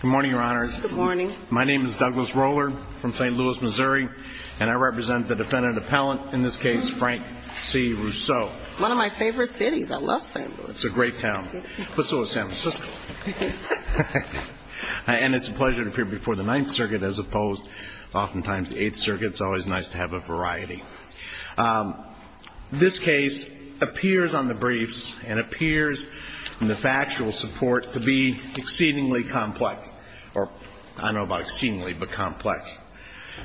Good morning, Your Honors. Good morning. My name is Douglas Roller from St. Louis, Missouri, and I represent the Defendant Appellant, in this case, Frank C. Rousseau. One of my favorite cities. I love St. Louis. It's a great town, but so is San Francisco. And it's a pleasure to appear before the Ninth Circuit, as opposed, oftentimes, the Eighth Circuit. It's always nice to have a variety. This case appears on the briefs and appears in the factual support to be exceedingly complex. Or, I don't know about exceedingly, but complex.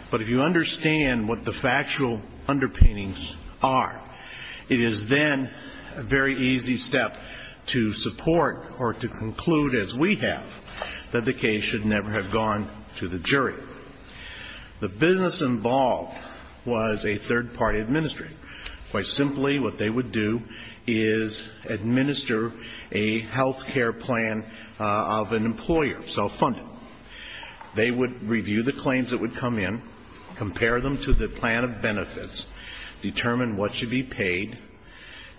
But if you understand what the factual underpinnings are, it is then a very easy step to support or to conclude, as we have, that the case should never have gone to the jury. The business involved was a third-party administrator. Quite simply, what they would do is administer a health care plan of an employer, self-funded. They would review the claims that would come in, compare them to the plan of benefits, determine what should be paid,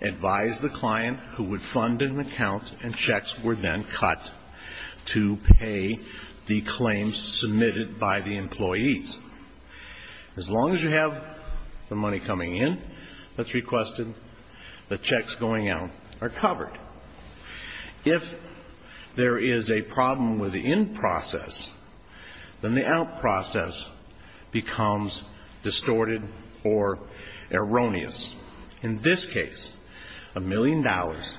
advise the client, who would fund an account, and checks were then cut to pay the claims submitted by the employees. As long as you have the money coming in that's requested, the checks going out are covered. If there is a problem with the in process, then the out process becomes distorted or erroneous. In this case, a million dollars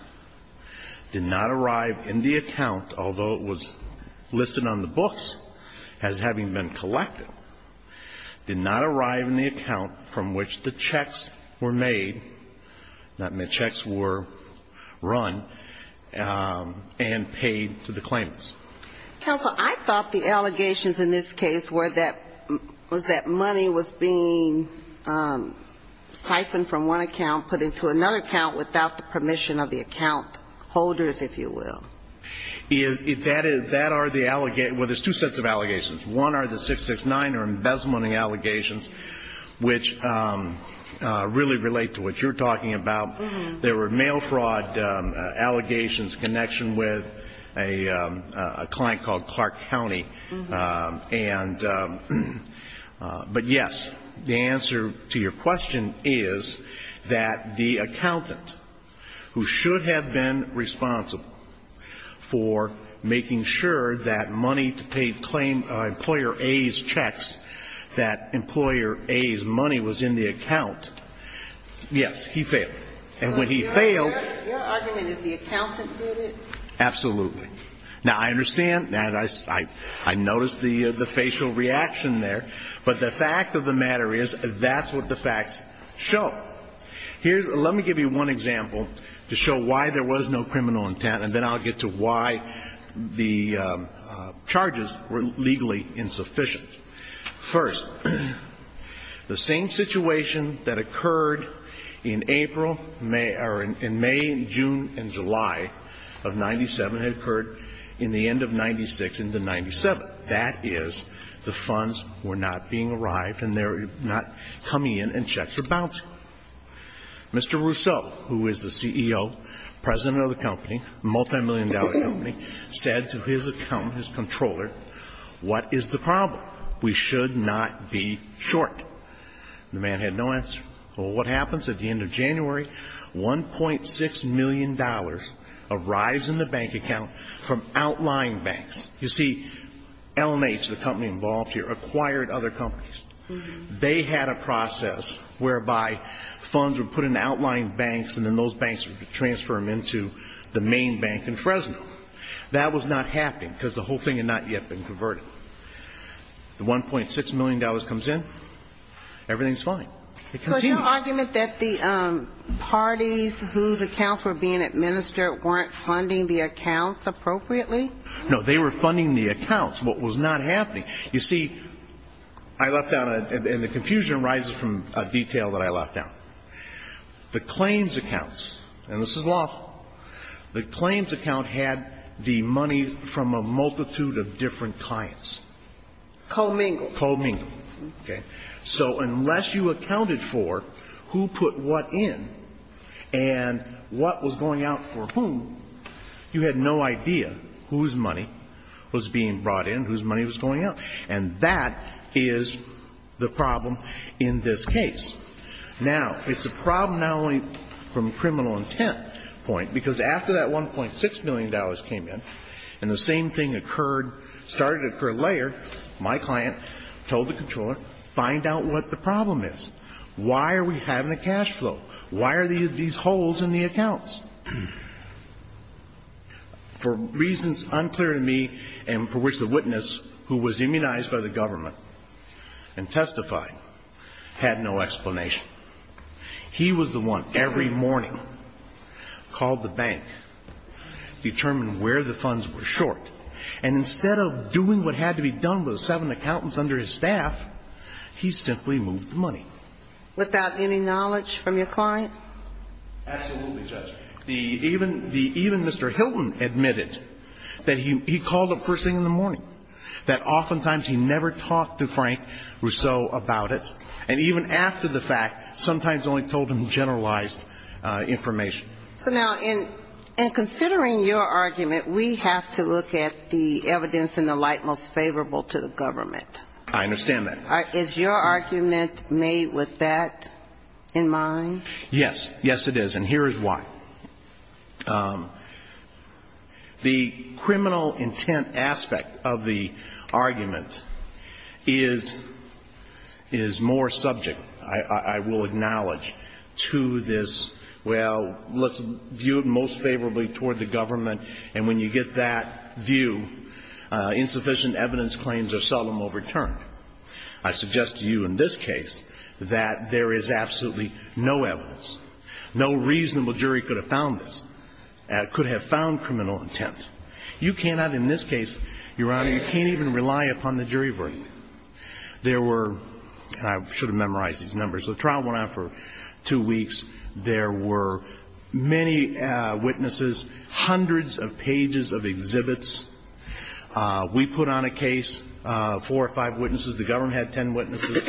did not arrive in the account, although it was listed on the books as having been collected, did not arrive in the account from which the checks were made, not made, checks were run and paid to the claimants. Counsel, I thought the allegations in this case were that, was that money was being siphoned from one account, put into another account without the permission of the account holders, if you will. That are the, well, there's two sets of allegations. One are the 669 or embezzlement allegations, which really relate to what you're talking about. There were mail fraud allegations in connection with a client called Clark County. But yes, the answer to your question is that the accountant who should have been responsible for making sure that money to pay employer A's checks, that employer A's money was in the account, yes, he failed. And when he failed. Your argument is the accountant did it? Absolutely. Now, I understand that. I noticed the facial reaction there. But the fact of the matter is that's what the facts show. Here's, let me give you one example to show why there was no criminal intent, and then I'll get to why the charges were legally insufficient. First, the same situation that occurred in April or in May and June and July of 97 had occurred in the end of 96 into 97. That is, the funds were not being arrived and they're not coming in and checks are bouncing. Mr. Rousseau, who is the CEO, president of the company, multimillion dollar company, said to his accountant, his controller, what is the problem? We should not be short. The man had no answer. Well, what happens at the end of January? $1.6 million arrives in the bank account from outlying banks. You see, LMH, the company involved here, acquired other companies. They had a process whereby funds were put into outlying banks and then those banks would transfer them into the main bank in Fresno. That was not happening because the whole thing had not yet been converted. The $1.6 million comes in, everything's fine. It continues. So is your argument that the parties whose accounts were being administered weren't funding the accounts appropriately? No, they were funding the accounts. What was not happening, you see, I left out, and the confusion arises from a detail that I left out. The claims accounts, and this is lawful, the claims account had the money from a multitude of different clients. Co-mingled. Co-mingled. Okay. So unless you accounted for who put what in and what was going out for whom, you had no idea whose money was being brought in, whose money was going out. And that is the problem in this case. Now, it's a problem not only from a criminal intent point, because after that $1.6 million came in and the same thing occurred, started to occur later, my client told the controller, find out what the problem is. Why are we having a cash flow? Why are these holes in the accounts? For reasons unclear to me and for which the witness, who was immunized by the government and testified, had no explanation. He was the one, every morning, called the bank, determined where the funds were short, and instead of doing what had to be done with the seven accountants under his staff, he simply moved the money. Without any knowledge from your client? Absolutely, Judge. Even Mr. Hilton admitted that he called the first thing in the morning, that oftentimes he never talked to Frank Rousseau about it. And even after the fact, sometimes only told him generalized information. So now, in considering your argument, we have to look at the evidence in the light most favorable to the government. I understand that. Is your argument made with that in mind? Yes. Yes, it is. And here is why. The criminal intent aspect of the argument is more subject, I will acknowledge, to this, well, let's view it most favorably toward the government. And when you get that view, insufficient evidence claims are seldom overturned. I suggest to you in this case that there is absolutely no evidence. No reasonable jury could have found this, could have found criminal intent. You cannot in this case, Your Honor, you can't even rely upon the jury verdict. There were, and I should have memorized these numbers, the trial went on for two weeks. There were many witnesses, hundreds of pages of exhibits. We put on a case, four or five witnesses, the government had ten witnesses.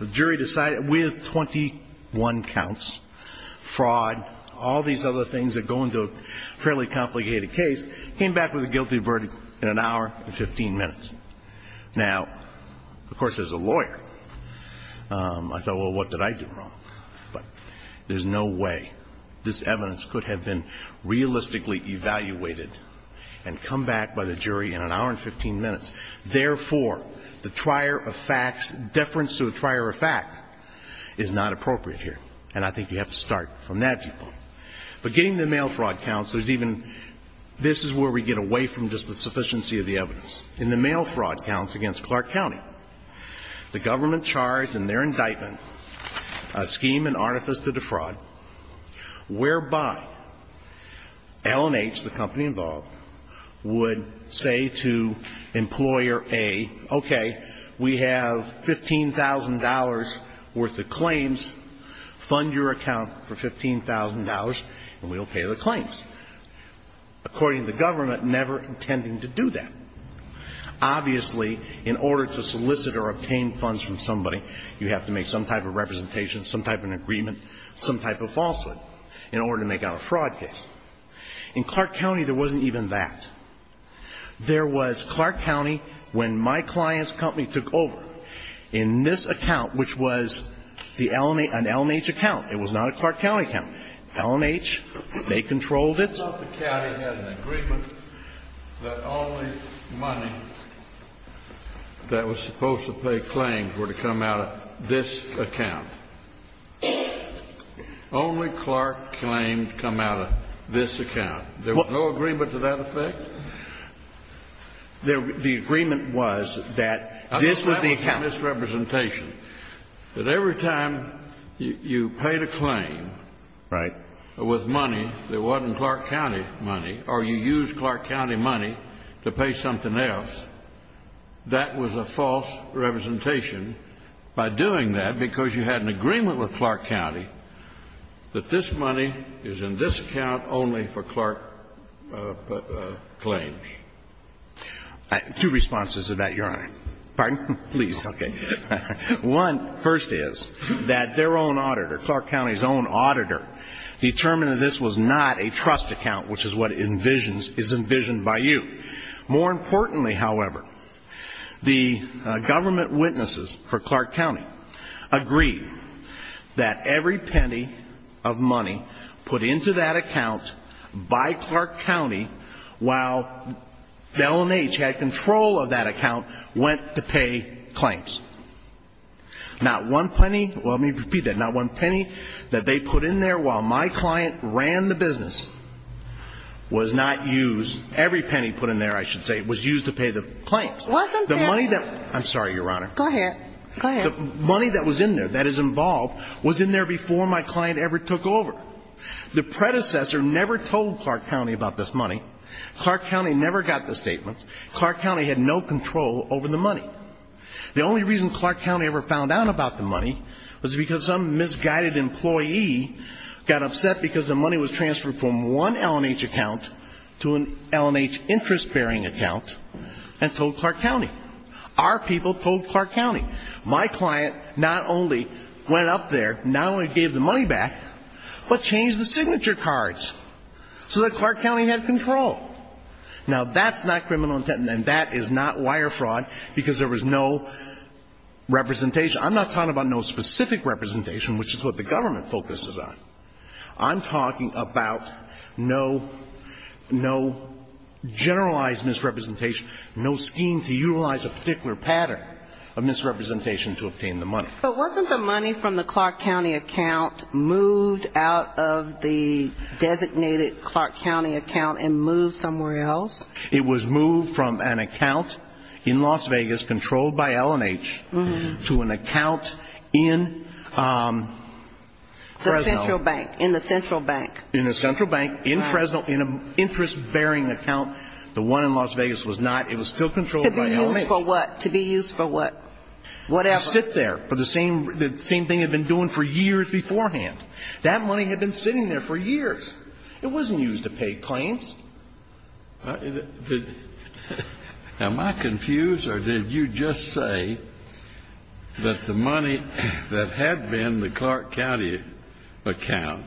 The jury decided, with 21 counts, fraud, all these other things that go into a fairly complicated case, came back with a guilty verdict in an hour and 15 minutes. Now, of course, as a lawyer, I thought, well, what did I do wrong? But there's no way this evidence could have been realistically evaluated and come back by the jury in an hour and 15 minutes. Therefore, the trier of facts, deference to a trier of facts is not appropriate here. And I think you have to start from that viewpoint. But getting the mail fraud counts, there's even, this is where we get away from just the sufficiency of the evidence. In the mail fraud counts against Clark County, the government charged in their indictment a scheme and artifice to defraud whereby L&H, the company involved, would say to Employer A, okay, we have $15,000 worth of claims, fund your account for $15,000, and we'll pay the claims. According to the government, never intending to do that. Obviously, in order to solicit or obtain funds from somebody, you have to make some type of representation, some type of agreement, some type of falsehood in order to make out a fraud case. In Clark County, there wasn't even that. There was Clark County, when my client's company took over, in this account, which was an L&H account. It was not a Clark County account. L&H, they controlled it. It was not the county that had an agreement that only money that was supposed to pay claims were to come out of this account. Only Clark claims come out of this account. There was no agreement to that effect? The agreement was that this was the account. I mean, that was a misrepresentation, that every time you paid a claim with money, there If you used Clark County money or you used Clark County money to pay something else, that was a false representation. By doing that, because you had an agreement with Clark County, that this money is in this account only for Clark claims. Two responses to that, Your Honor. Pardon? Please. Okay. One, first is that their own auditor, Clark County's own auditor, determined that this was not a trust account, which is what is envisioned by you. More importantly, however, the government witnesses for Clark County agreed that every penny of money put into that account by Clark County, while L&H had control of that account, went to pay claims. Not one penny, well, let me repeat that, not one penny that they put in there while my client ran the business was not used, every penny put in there, I should say, was used to pay the claims. Wasn't there? The money that, I'm sorry, Your Honor. Go ahead. Go ahead. The money that was in there, that is involved, was in there before my client ever took over. The predecessor never told Clark County about this money. Clark County never got the statements. Clark County had no control over the money. The only reason Clark County ever found out about the money was because some misguided employee got upset because the money was transferred from one L&H account to an L&H interest-bearing account and told Clark County. Our people told Clark County. My client not only went up there, not only gave the money back, but changed the signature cards so that Clark County had control. Now, that's not criminal intent, and that is not wire fraud, because there was no representation. I'm not talking about no specific representation, which is what the government focuses on. I'm talking about no generalized misrepresentation, no scheme to utilize a particular pattern of misrepresentation to obtain the money. But wasn't the money from the Clark County account moved out of the designated Clark County account and moved somewhere else? It was moved from an account in Las Vegas controlled by L&H to an account in Fresno. The central bank, in the central bank. In the central bank, in Fresno, in an interest-bearing account. The one in Las Vegas was not. It was still controlled by L&H. To be used for what? To be used for what? Whatever. To sit there for the same thing it had been doing for years beforehand. That money had been sitting there for years. It wasn't used to pay claims. Am I confused, or did you just say that the money that had been the Clark County account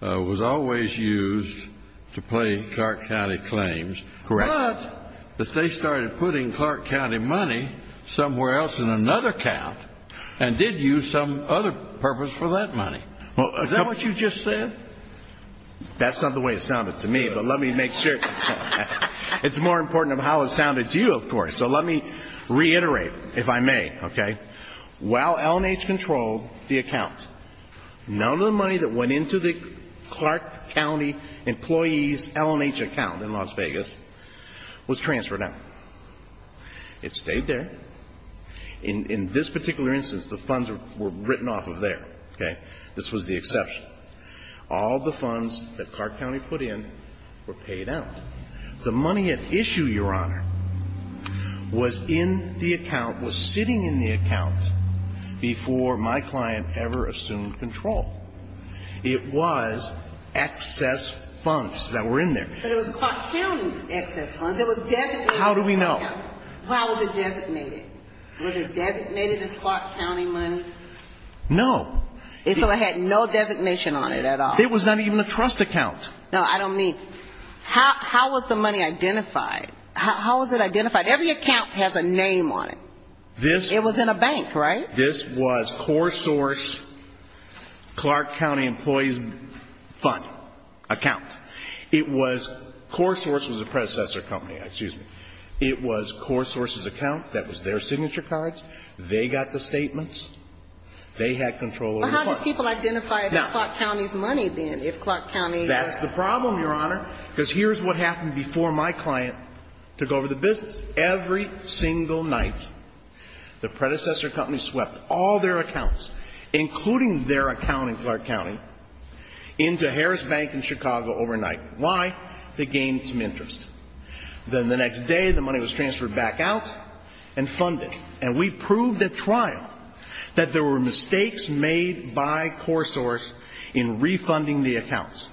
was always used to pay Clark County claims. Correct. But that they started putting Clark County money somewhere else in another account and did use some other purpose for that money. Is that what you just said? That's not the way it sounded to me, but let me make sure. It's more important of how it sounded to you, of course. So let me reiterate, if I may. While L&H controlled the account, none of the money that went into the Clark County employee's L&H account in Las Vegas was transferred out. It stayed there. In this particular instance, the funds were written off of there. This was the exception. All the funds that Clark County put in were paid out. The money at issue, Your Honor, was in the account, was sitting in the account before my client ever assumed control. It was excess funds that were in there. But it was Clark County's excess funds. It was designated. How do we know? How was it designated? Was it designated as Clark County money? No. So it had no designation on it at all? It was not even a trust account. No, I don't mean. How was the money identified? How was it identified? Every account has a name on it. It was in a bank, right? This was CoreSource Clark County employee's fund account. It was CoreSource was a predecessor company, excuse me. It was CoreSource's account. That was their signature cards. They got the statements. They had control over the funds. But how did people identify it as Clark County's money, then, if Clark County was? That's the problem, Your Honor, because here's what happened before my client took over the business. Every single night, the predecessor company swept all their accounts, including their account in Clark County, into Harris Bank in Chicago overnight. Why? To gain some interest. Then the next day, the money was transferred back out and funded. And we proved at trial that there were mistakes made by CoreSource in refunding the accounts.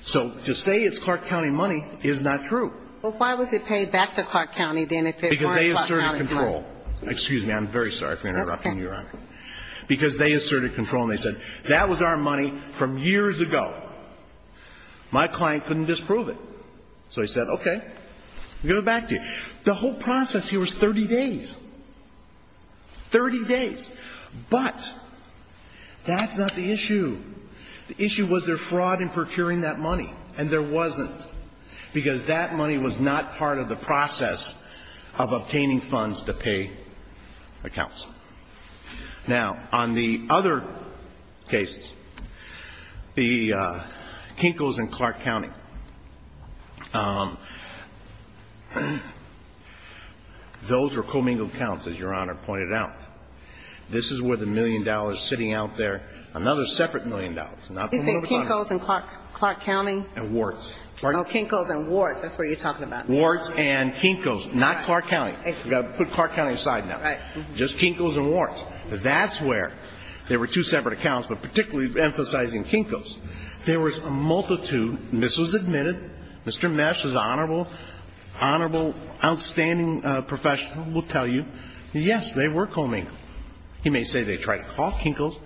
So to say it's Clark County money is not true. Well, why was it paid back to Clark County, then, if it weren't Clark County's money? Because they asserted control. Excuse me. I'm very sorry for interrupting you, Your Honor. That's okay. Because they asserted control, and they said, that was our money from years ago. My client couldn't disprove it. So he said, okay, we'll give it back to you. And the whole process here was 30 days, 30 days. But that's not the issue. The issue was their fraud in procuring that money. And there wasn't, because that money was not part of the process of obtaining funds to pay accounts. Now, on the other cases, the Kinkos and Clark County, those were commingled accounts, as Your Honor pointed out. This is where the million dollars sitting out there, another separate million dollars. Is it Kinkos and Clark County? And Warts. Oh, Kinkos and Warts. That's what you're talking about. Warts and Kinkos, not Clark County. We've got to put Clark County aside now. Right. Just Kinkos and Warts. That's where there were two separate accounts. But particularly emphasizing Kinkos, there was a multitude, and this was admitted, Mr. Mesh is an honorable, outstanding professional, will tell you, yes, they were commingled. He may say they tried to cough Kinkos,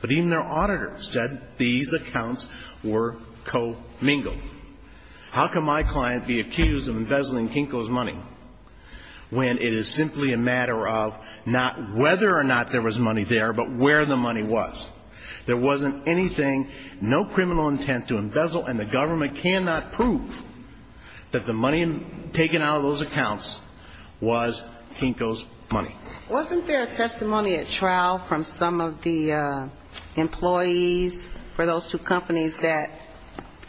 but even their auditor said these accounts were commingled. How can my client be accused of embezzling Kinkos money when it is simply a matter of not whether or not there was money there, but where the money was? There wasn't anything, no criminal intent to embezzle, and the government cannot prove that the money taken out of those accounts was Kinkos money. Wasn't there a testimony at trial from some of the employees for those two companies that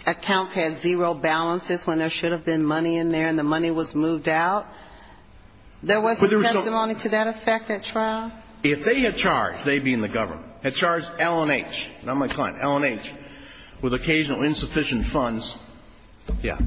accounts had zero balances when there should have been money in there and the money was moved out? There wasn't testimony to that effect at trial? If they had charged, they being the government, had charged L&H, not my client, L&H, with occasional insufficient funds, yeah,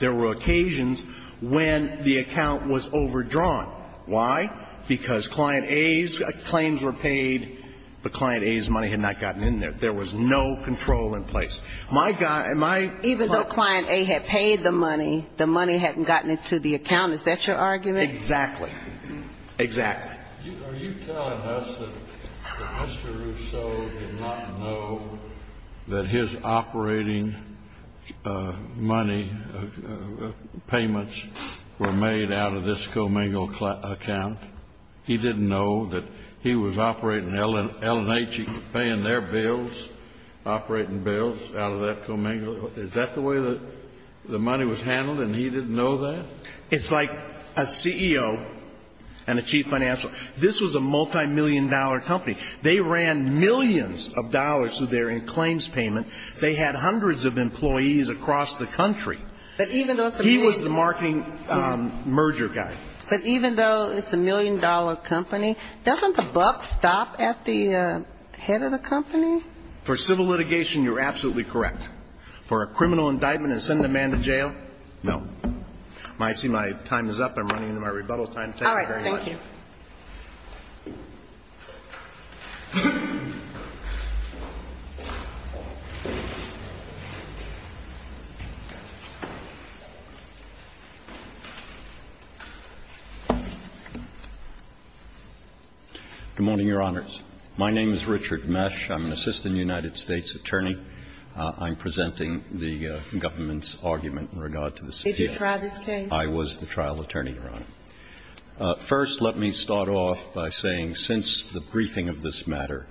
there were occasions when the account was overdrawn. Why? Because Client A's claims were paid, but Client A's money had not gotten in there. There was no control in place. My client ---- Even though Client A had paid the money, the money hadn't gotten into the account. Is that your argument? Exactly. Exactly. Are you telling us that Mr. Rousseau did not know that his operating money payments were made out of this commingle account? He didn't know that he was operating L&H, paying their bills, operating bills out of that commingle? Is that the way the money was handled and he didn't know that? It's like a CEO and a chief financial. This was a multimillion-dollar company. They ran millions of dollars through their claims payment. They had hundreds of employees across the country. He was the marketing merger guy. But even though it's a million-dollar company, doesn't the buck stop at the head of the company? For civil litigation, you're absolutely correct. For a criminal indictment and send the man to jail, no. I see my time is up. I'm running into my rebuttal time. Thank you very much. All right. Thank you. Good morning, Your Honors. My name is Richard Mesh. I'm an assistant United States attorney. I'm presenting the government's argument in regard to this case. Did you try this case? I was the trial attorney, Your Honor. First, let me start off by saying since the briefing of this matter,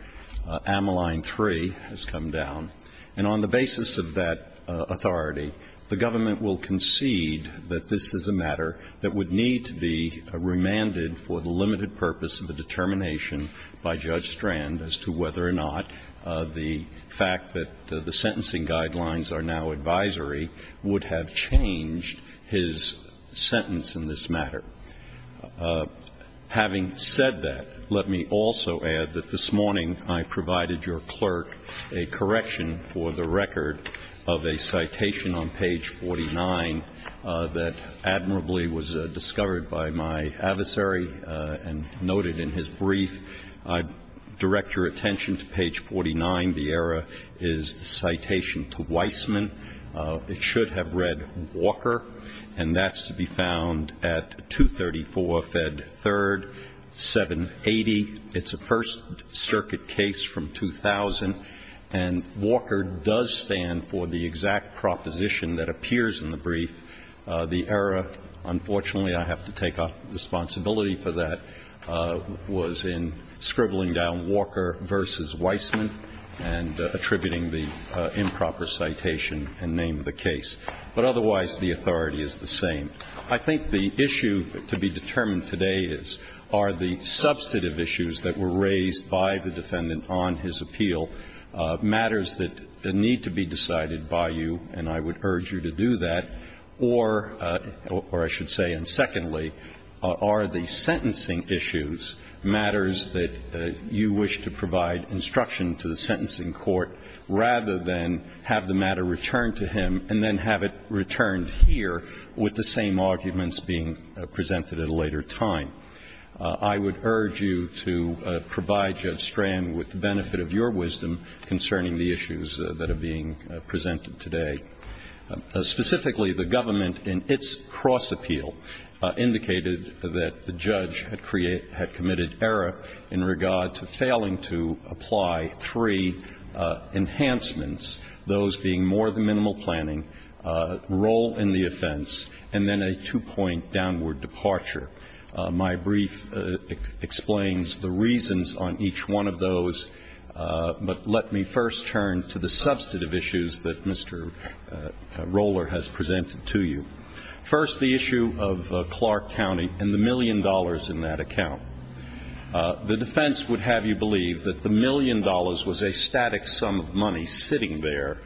Ameline 3 has come down. And on the basis of that authority, the government will concede that this is a matter that would need to be remanded for the limited purpose of the determination by Judge Strand as to whether or not the fact that the sentencing guidelines are now advisory would have changed his sentence in this matter. Having said that, let me also add that this morning I provided your clerk a correction for the record of a citation on page 49 that admirably was discovered by my adversary and noted in his brief. I direct your attention to page 49. The error is the citation to Weissman. It should have read Walker, and that's to be found at 234 Fed 3rd, 780. It's a First Circuit case from 2000, and Walker does stand for the exact proposition that appears in the brief. The error, unfortunately, I have to take responsibility for that, was in scribbling down Walker v. Weissman and attributing the improper citation and name of the case. But otherwise, the authority is the same. I think the issue to be determined today are the substantive issues that were raised by the defendant on his appeal, matters that need to be decided by you, and I would urge you to do that, or I should say, and secondly, are the sentencing issues matters that you wish to provide instruction to the sentencing court rather than have the matter returned to him and then have it returned here with the same arguments being presented at a later time. I would urge you to provide Judge Strand with the benefit of your wisdom concerning the issues that are being presented today. Specifically, the government in its cross-appeal indicated that the judge had committed error in regard to failing to apply three enhancements, those being more than minimal planning, role in the offense, and then a two-point downward departure. My brief explains the reasons on each one of those. But let me first turn to the substantive issues that Mr. Roller has presented to you. First, the issue of Clark County and the million dollars in that account. The defense would have you believe that the million dollars was a static sum of money sitting there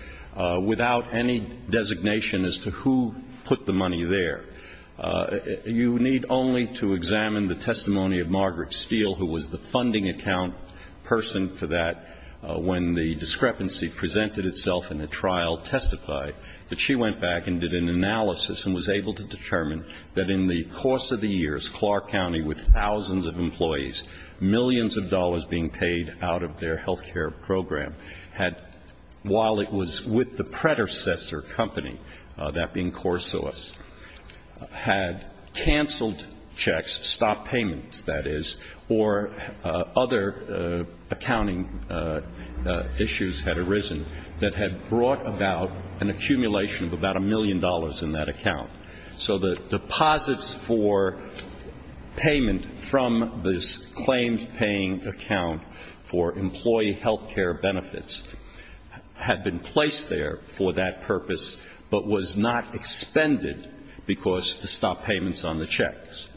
without any designation as to who put the money there. You need only to examine the testimony of Margaret Steele, who was the funding account person for that, when the discrepancy presented itself in the trial testified that she went back and did an analysis and was able to determine that in the course of the years, Clark County, with thousands of employees, millions of dollars being paid out of their health care program, while it was with the predecessor company, that being CoreSource, had canceled checks, stopped payments, that is, or other accounting issues had arisen that had brought about an accumulation of about a million dollars in that account. So the deposits for payment from this claims-paying account for employee health care benefits had been placed there for that purpose, but was not expended because the stop payments on the checks.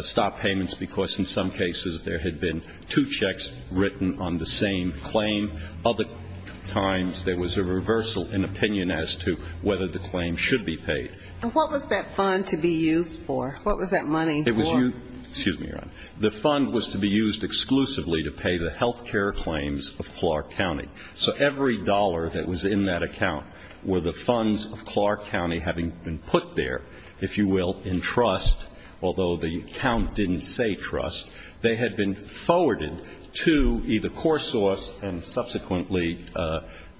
Stop payments because in some cases there had been two checks written on the same claim. Other times there was a reversal in opinion as to whether the claim should be paid. And what was that fund to be used for? What was that money for? It was used to be used exclusively to pay the health care claims of Clark County. So every dollar that was in that account were the funds of Clark County having been put there, if you will, in trust, although the account didn't say trust. They had been forwarded to either CoreSource and subsequently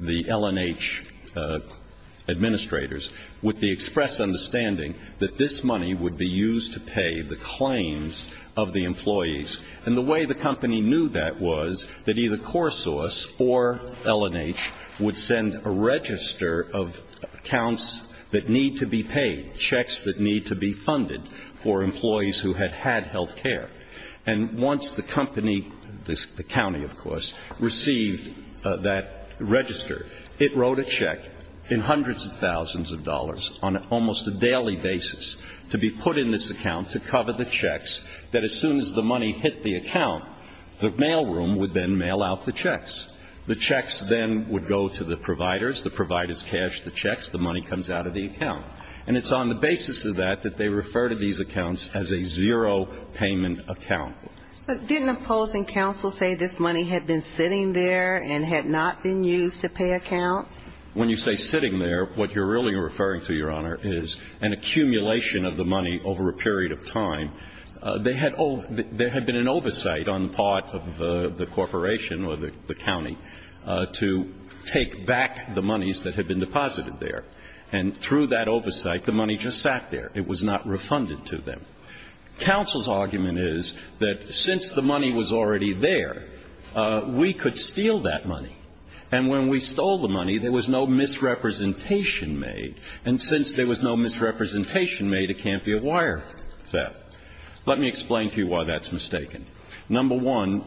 the L&H administrators with the express understanding that this money would be used to pay the claims of the accounts that need to be paid, checks that need to be funded for employees who had had health care. And once the company, the county of course, received that register, it wrote a check in hundreds of thousands of dollars on almost a daily basis to be put in this account to cover the checks that as soon as the money hit the account, the mailroom would then mail out the checks. The checks then would go to the providers, the providers cashed the checks, the money comes out of the account. And it's on the basis of that that they refer to these accounts as a zero payment account. But didn't opposing counsel say this money had been sitting there and had not been used to pay accounts? When you say sitting there, what you're really referring to, Your Honor, is an accumulation of the money over a period of time. There had been an oversight on the part of the corporation or the county to take back the monies that had been deposited there. And through that oversight, the money just sat there. It was not refunded to them. Counsel's argument is that since the money was already there, we could steal that money. And when we stole the money, there was no misrepresentation made. And since there was no misrepresentation made, it can't be a wire theft. Let me explain to you why that's mistaken. Number one,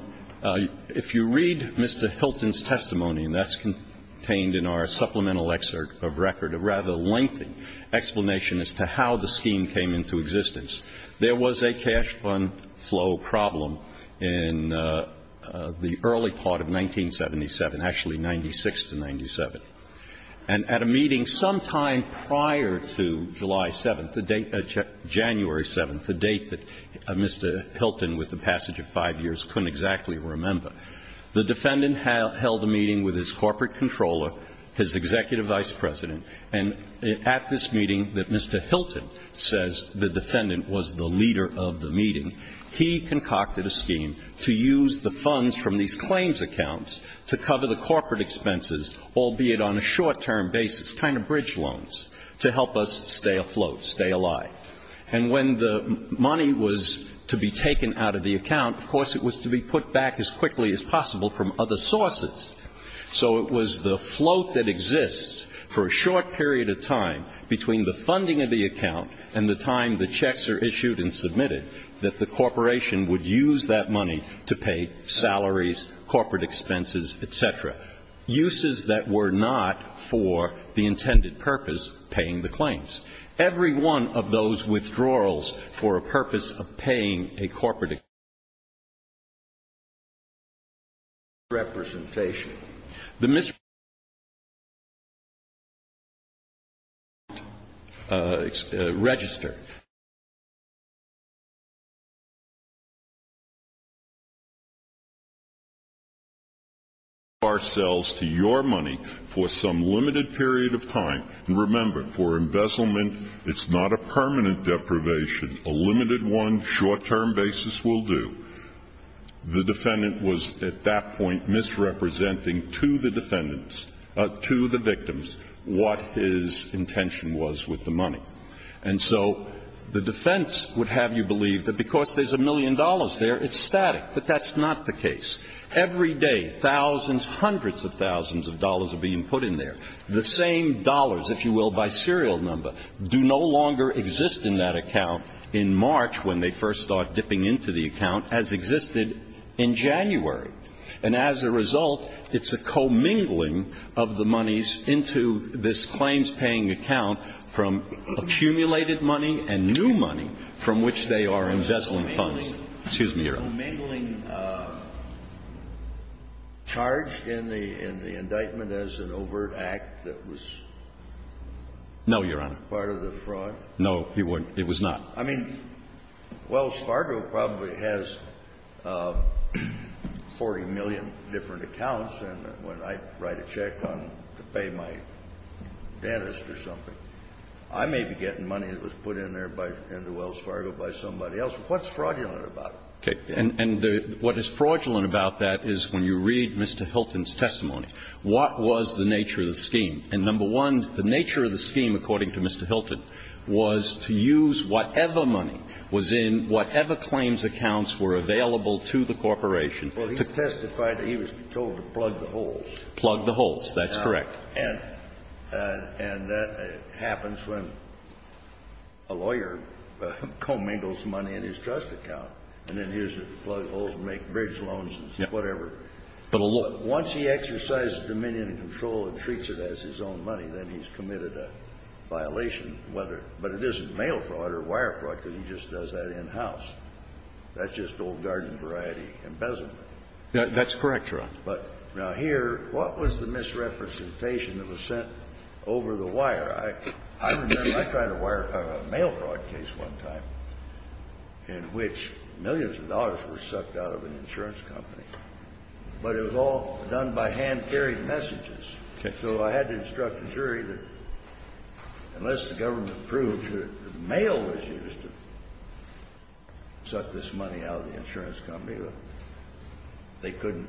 if you read Mr. Hilton's testimony, and that's contained in our supplemental excerpt of record, a rather lengthy explanation as to how the scheme came into existence, there was a cash fund flow problem in the early part of 1977, actually, 96 to 97. And at a meeting sometime prior to July 7th, January 7th, a date that Mr. Hilton, with the passage of five years, couldn't exactly remember, the defendant held a meeting with his corporate controller, his executive vice president. And at this meeting that Mr. Hilton says the defendant was the leader of the meeting, he concocted a scheme to use the funds from these claims accounts to cover the corporate expenses, albeit on a short-term basis, kind of bridge loans, to help us stay afloat, stay alive. And when the money was to be taken out of the account, of course, it was to be put back as quickly as possible from other sources. So it was the float that exists for a short period of time between the funding of the account and the time the checks are issued and submitted that the corporation would use that money to pay salaries, corporate expenses, et cetera. Uses that were not for the intended purpose, paying the claims. Every one of those withdrawals for a purpose of paying a corporate expense is a misrepresentation. The misrepresentation of the account register. The misrepresentation of the account register. And remember, for embezzlement, it's not a permanent deprivation. A limited one, short-term basis will do. The defendant was, at that point, misrepresenting to the defendants, to the victims, what his intention was with the money. And so the defense would have you believe that because there's a million dollars there, it's static. But that's not the case. Every day, thousands, hundreds of thousands of dollars are being put in there. The same dollars, if you will, by serial number, do no longer exist in that account in March when they first start dipping into the account, as existed in January. And as a result, it's a commingling of the monies into this claims-paying account from accumulated money and new money from which they are embezzling funds. Excuse me, Your Honor. Was the commingling charged in the indictment as an overt act that was part of the fraud? No, Your Honor. No, it was not. I mean, Wells Fargo probably has 40 million different accounts. And when I write a check to pay my dentist or something, I may be getting money that was put in there by Wells Fargo by somebody else. What's fraudulent about it? Okay. And what is fraudulent about that is when you read Mr. Hilton's testimony, what was the nature of the scheme? And number one, the nature of the scheme, according to Mr. Hilton, was to use whatever money was in whatever claims accounts were available to the corporation to testify that he was told to plug the holes. Plug the holes. That's correct. And that happens when a lawyer commingles money in his trust account, and then uses it to plug holes and make bridge loans and whatever. Once he exercises dominion and control and treats it as his own money, then he's committed a violation, whether – but it isn't mail fraud or wire fraud, because he just does that in-house. That's just old garden variety embezzlement. That's correct, Your Honor. But now here, what was the misrepresentation that was sent over the wire? I remember I tried a wire – a mail fraud case one time in which millions of dollars were sucked out of an insurance company, but it was all done by hand-carried messages. So I had to instruct the jury that unless the government proved that mail was used to suck this money out of the insurance company, they couldn't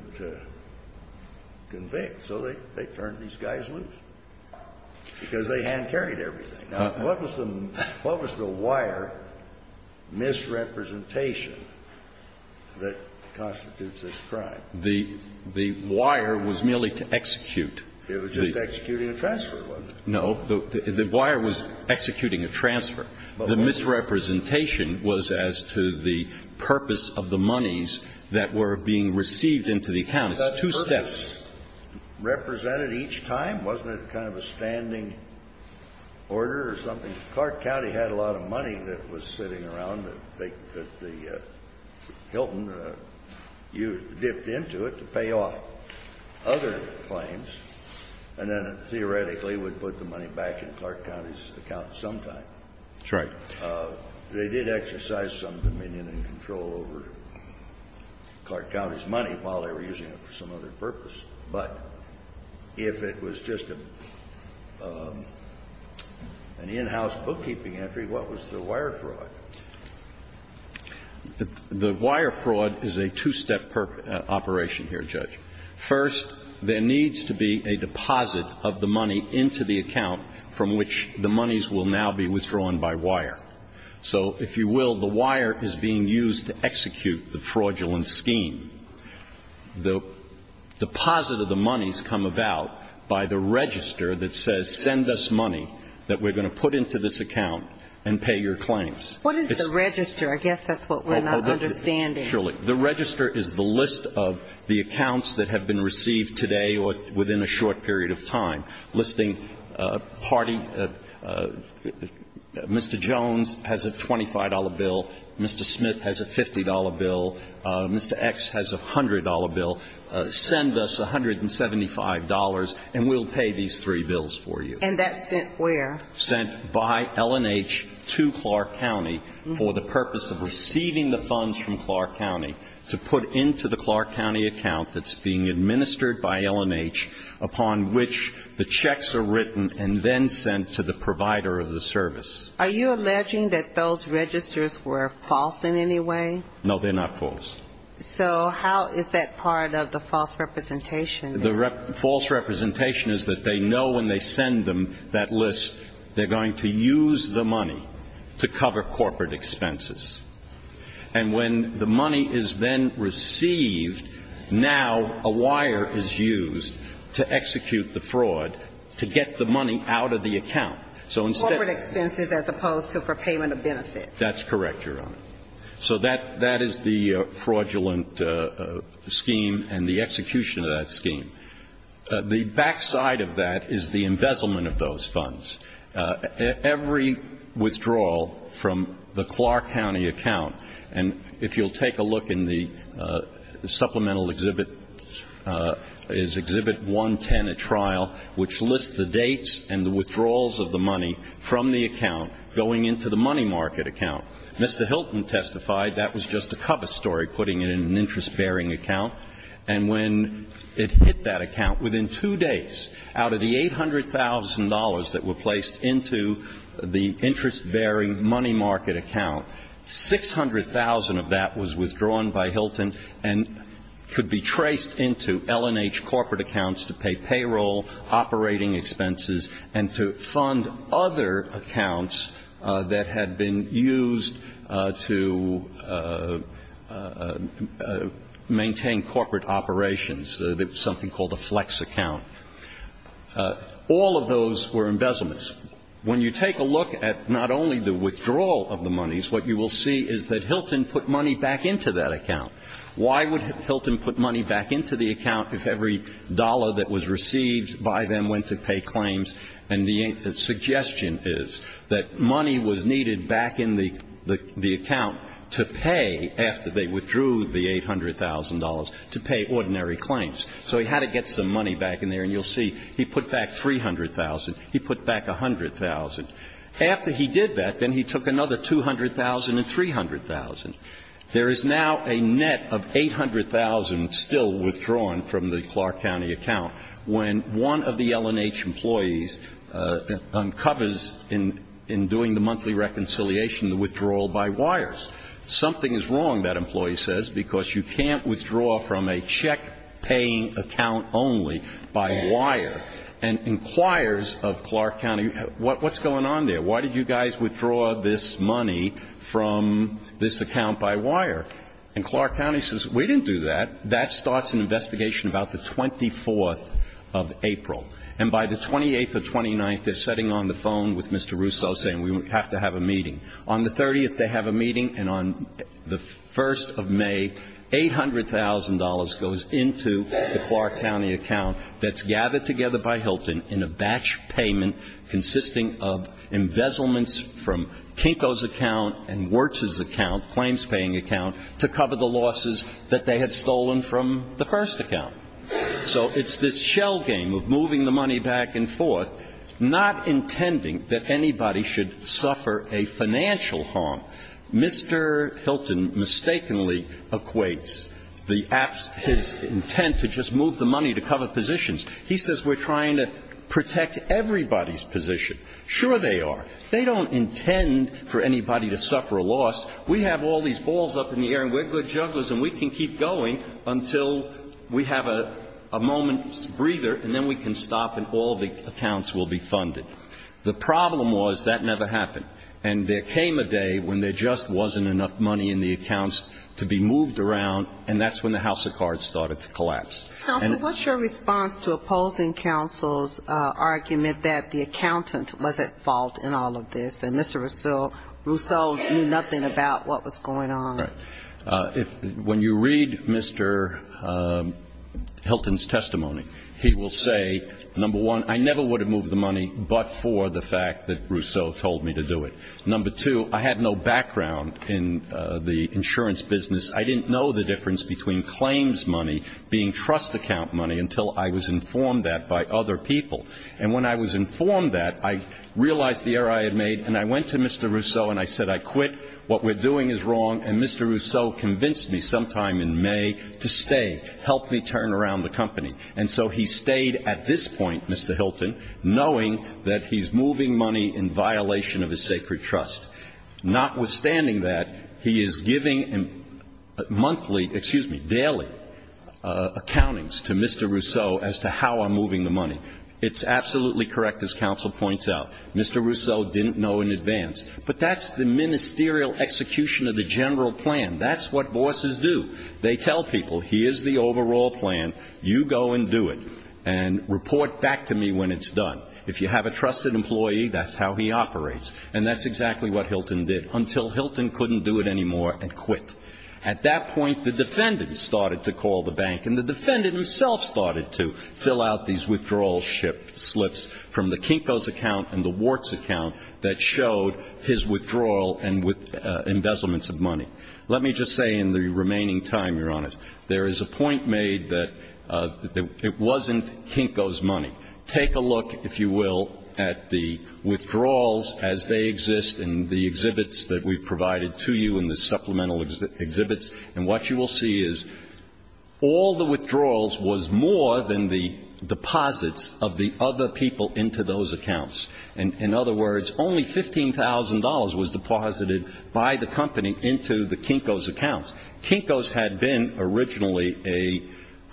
convict. So they turned these guys loose because they hand-carried everything. Now, what was the wire misrepresentation that constitutes this crime? The wire was merely to execute. It was just executing a transfer, wasn't it? No. The wire was executing a transfer. The misrepresentation was as to the purpose of the monies that were being received into the account. It's two steps. Was that purpose represented each time? Wasn't it kind of a standing order or something? Clark County had a lot of money that was sitting around that they – that the Hilton dipped into it to pay off other claims, and then theoretically would put the money back in Clark County's account sometime. That's right. They did exercise some dominion and control over Clark County's money while they were using it for some other purpose. But if it was just an in-house bookkeeping entry, what was the wire fraud? The wire fraud is a two-step operation here, Judge. First, there needs to be a deposit of the money into the account from which the monies will now be withdrawn by wire. So if you will, the wire is being used to execute the fraudulent scheme. The deposit of the monies come about by the register that says send us money that we're going to put into this account and pay your claims. What is the register? I guess that's what we're not understanding. The register is the list of the accounts that have been received today or within a short period of time, listing party. Mr. Jones has a $25 bill. Mr. Smith has a $50 bill. Mr. X has a $100 bill. Send us $175, and we'll pay these three bills for you. And that's sent where? Sent by L&H to Clark County for the purpose of receiving the funds from Clark County to put into the Clark County account that's being administered by L&H, upon which the checks are written and then sent to the provider of the service. Are you alleging that those registers were false in any way? No, they're not false. So how is that part of the false representation? The false representation is that they know when they send them that list, they're going to use the money to cover corporate expenses. And when the money is then received, now a wire is used to execute the fraud to get the money out of the account. Corporate expenses as opposed to for payment of benefits. That's correct, Your Honor. So that is the fraudulent scheme and the execution of that scheme. The backside of that is the embezzlement of those funds. Every withdrawal from the Clark County account, and if you'll take a look in the supplemental exhibit, is Exhibit 110 at trial, which lists the dates and the withdrawals of the money from the account going into the money market account. Mr. Hilton testified that was just a cover story, putting it in an interest-bearing account, and when it hit that account, within two days, out of the $800,000 that were placed into the interest-bearing money market account, 600,000 of that was withdrawn by Hilton and could be traced into L&H corporate accounts to pay payroll, operating expenses, and to fund other accounts that had been used to maintain corporate operations, something called a flex account. All of those were embezzlements. When you take a look at not only the withdrawal of the monies, what you will see is that Hilton put money back into that account. Why would Hilton put money back into the account if every dollar that was received by them went to pay claims? And the suggestion is that money was needed back in the account to pay, after they withdrew the $800,000, to pay ordinary claims. So he had to get some money back in there, and you'll see he put back 300,000. He put back 100,000. After he did that, then he took another 200,000 and 300,000. There is now a net of 800,000 still withdrawn from the Clark County account when one of the L&H employees uncovers in doing the monthly reconciliation the withdrawal by wires. Something is wrong, that employee says, because you can't withdraw from a check-paying account only by wire and inquires of Clark County, what's going on there? Why did you guys withdraw this money from this account by wire? And Clark County says, we didn't do that. That starts an investigation about the 24th of April. And by the 28th or 29th, they're sitting on the phone with Mr. Russo saying we have to have a meeting. On the 30th, they have a meeting, and on the 1st of May, $800,000 goes into the Clark County account. And the money is being used to cover the losses that they had stolen from the first account. So it's this shell game of moving the money back and forth, not intending that anybody should suffer a financial harm. Mr. Hilton mistakenly equates the abs his intent to just move the money to cover positions. He says we're trying to protect everybody's position. Sure they are. They don't intend for anybody to suffer a loss. We have all these balls up in the air, and we're good jugglers, and we can keep going until we have a moment's breather, and then we can stop and all the accounts will be funded. The problem was that never happened. And there came a day when there just wasn't enough money in the accounts to be moved around, and that's when the house of cards started to collapse. Counsel, what's your response to opposing counsel's argument that the accountant was at fault in all of this, and Mr. Rousseau knew nothing about what was going on? When you read Mr. Hilton's testimony, he will say, number one, I never would have moved the money but for the fact that Rousseau told me to do it. Number two, I had no background in the insurance business. I didn't know the difference between claims money being trust account money until I was informed that by other people. And when I was informed that, I realized the error I had made, and I went to Mr. Rousseau and I said, I quit. What we're doing is wrong. And Mr. Rousseau convinced me sometime in May to stay, help me turn around the company. And so he stayed at this point, Mr. Hilton, knowing that he's moving money in violation of his sacred trust. Notwithstanding that, he is giving monthly, excuse me, daily accountings to Mr. Rousseau as to how I'm moving the money. It's absolutely correct, as counsel points out. Mr. Rousseau didn't know in advance. But that's the ministerial execution of the general plan. That's what bosses do. They tell people, here's the overall plan. You go and do it. And report back to me when it's done. If you have a trusted employee, that's how he operates. And that's exactly what Hilton did until Hilton couldn't do it anymore and quit. At that point, the defendant started to call the bank. And the defendant himself started to fill out these withdrawal slips from the Kinko's account and the Wart's account that showed his withdrawal and embezzlements of money. Let me just say in the remaining time, Your Honor, there is a point made that it wasn't Kinko's money. Take a look, if you will, at the withdrawals as they exist in the exhibits that we've provided to you in the supplemental exhibits. And what you will see is all the withdrawals was more than the deposits of the other people into those accounts. In other words, only $15,000 was deposited by the company into the Kinko's accounts. Kinko's had been originally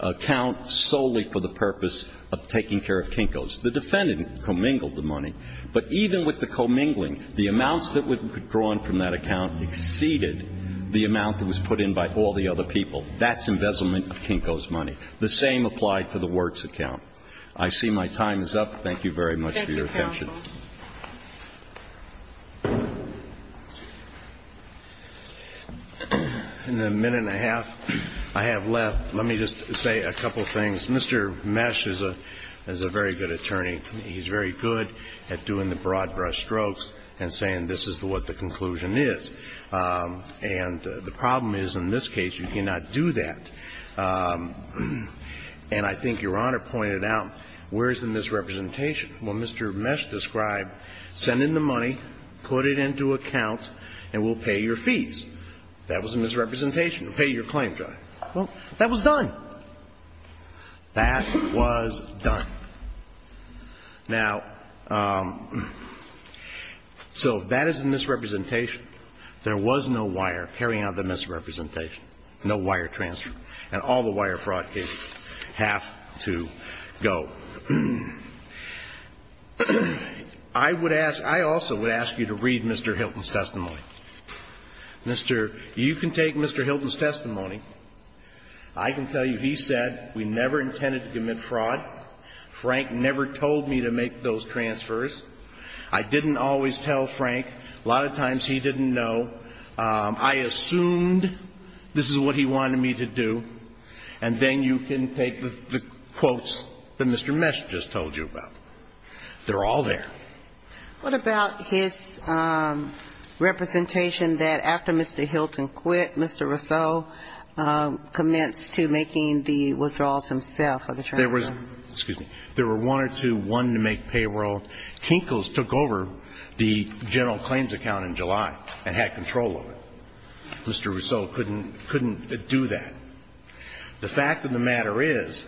a account solely for the purpose of taking care of Kinko's. The defendant commingled the money. But even with the commingling, the amounts that were withdrawn from that account exceeded the amount that was put in by all the other people. That's embezzlement of Kinko's money. The same applied for the Wart's account. I see my time is up. Thank you very much for your attention. In the minute and a half I have left, let me just say a couple things. Mr. Mesh is a very good attorney. He's very good at doing the broad brush strokes and saying this is what the conclusion is. And the problem is, in this case, you cannot do that. And I think Your Honor pointed out, where is the misrepresentation? When Mr. Mesh described, send in the money, put it into accounts, and we'll pay your fees, that was a misrepresentation. Pay your claims, Your Honor. Well, that was done. That was done. Now, so that is a misrepresentation. There was no wire carrying out the misrepresentation, no wire transfer. And all the wire fraud cases have to go. I would ask, I also would ask you to read Mr. Hilton's testimony. Mr. You can take Mr. Hilton's testimony. I can tell you he said we never intended to commit fraud. Frank never told me to make those transfers. I didn't always tell Frank. A lot of times he didn't know. I assumed this is what he wanted me to do. And then you can take the quotes that Mr. Mesh just told you about. They're all there. What about his representation that after Mr. Hilton quit, Mr. Rousseau commenced to making the withdrawals himself of the transfer? There was one or two, one to make payroll. Kinkles took over the general claims account in July and had control of it. Mr. Rousseau couldn't do that. The fact of the matter is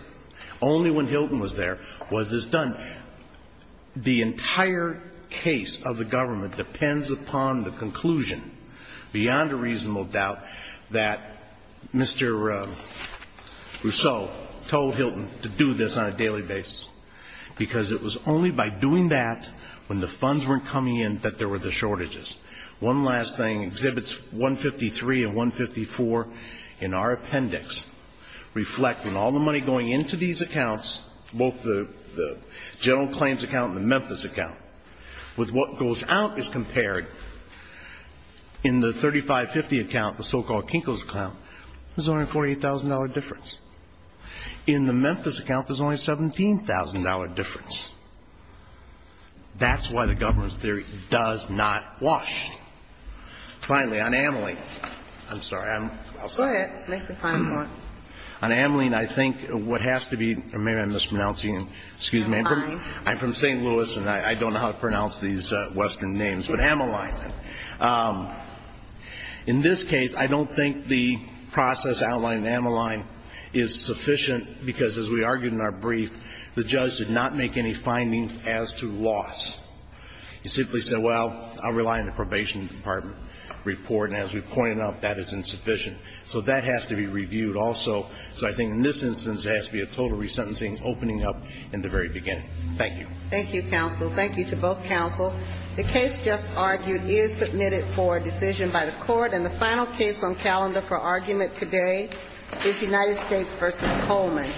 only when Hilton was there was this done. The entire case of the government depends upon the conclusion, beyond a reasonable doubt, that Mr. Rousseau told Hilton to do this on a daily basis because it was only by doing that when the funds weren't coming in that there were the shortages. One last thing. Exhibits 153 and 154 in our appendix reflect that all the money going into these accounts, both the general claims account and the Memphis account, with what goes out is compared in the 3550 account, the so-called Kinkles account, there's only a $48,000 difference. In the Memphis account, there's only a $17,000 difference. That's why the government's theory does not wash. Finally, on Ameline. I'm sorry. I'm sorry. Go ahead. Make the final point. On Ameline, I think what has to be or maybe I'm mispronouncing. Excuse me. You're fine. I'm from St. Louis and I don't know how to pronounce these Western names, but Ameline. In this case, I don't think the process outlined in Ameline is sufficient because, as we argued in our brief, the judge did not make any findings as to loss. He simply said, well, I rely on the probation department report. And as we pointed out, that is insufficient. So that has to be reviewed also. So I think in this instance, there has to be a total resentencing opening up in the very beginning. Thank you. Thank you, counsel. Thank you to both counsel. The case just argued is submitted for a decision by the court. And the final case on calendar for argument today is United States v. Coleman.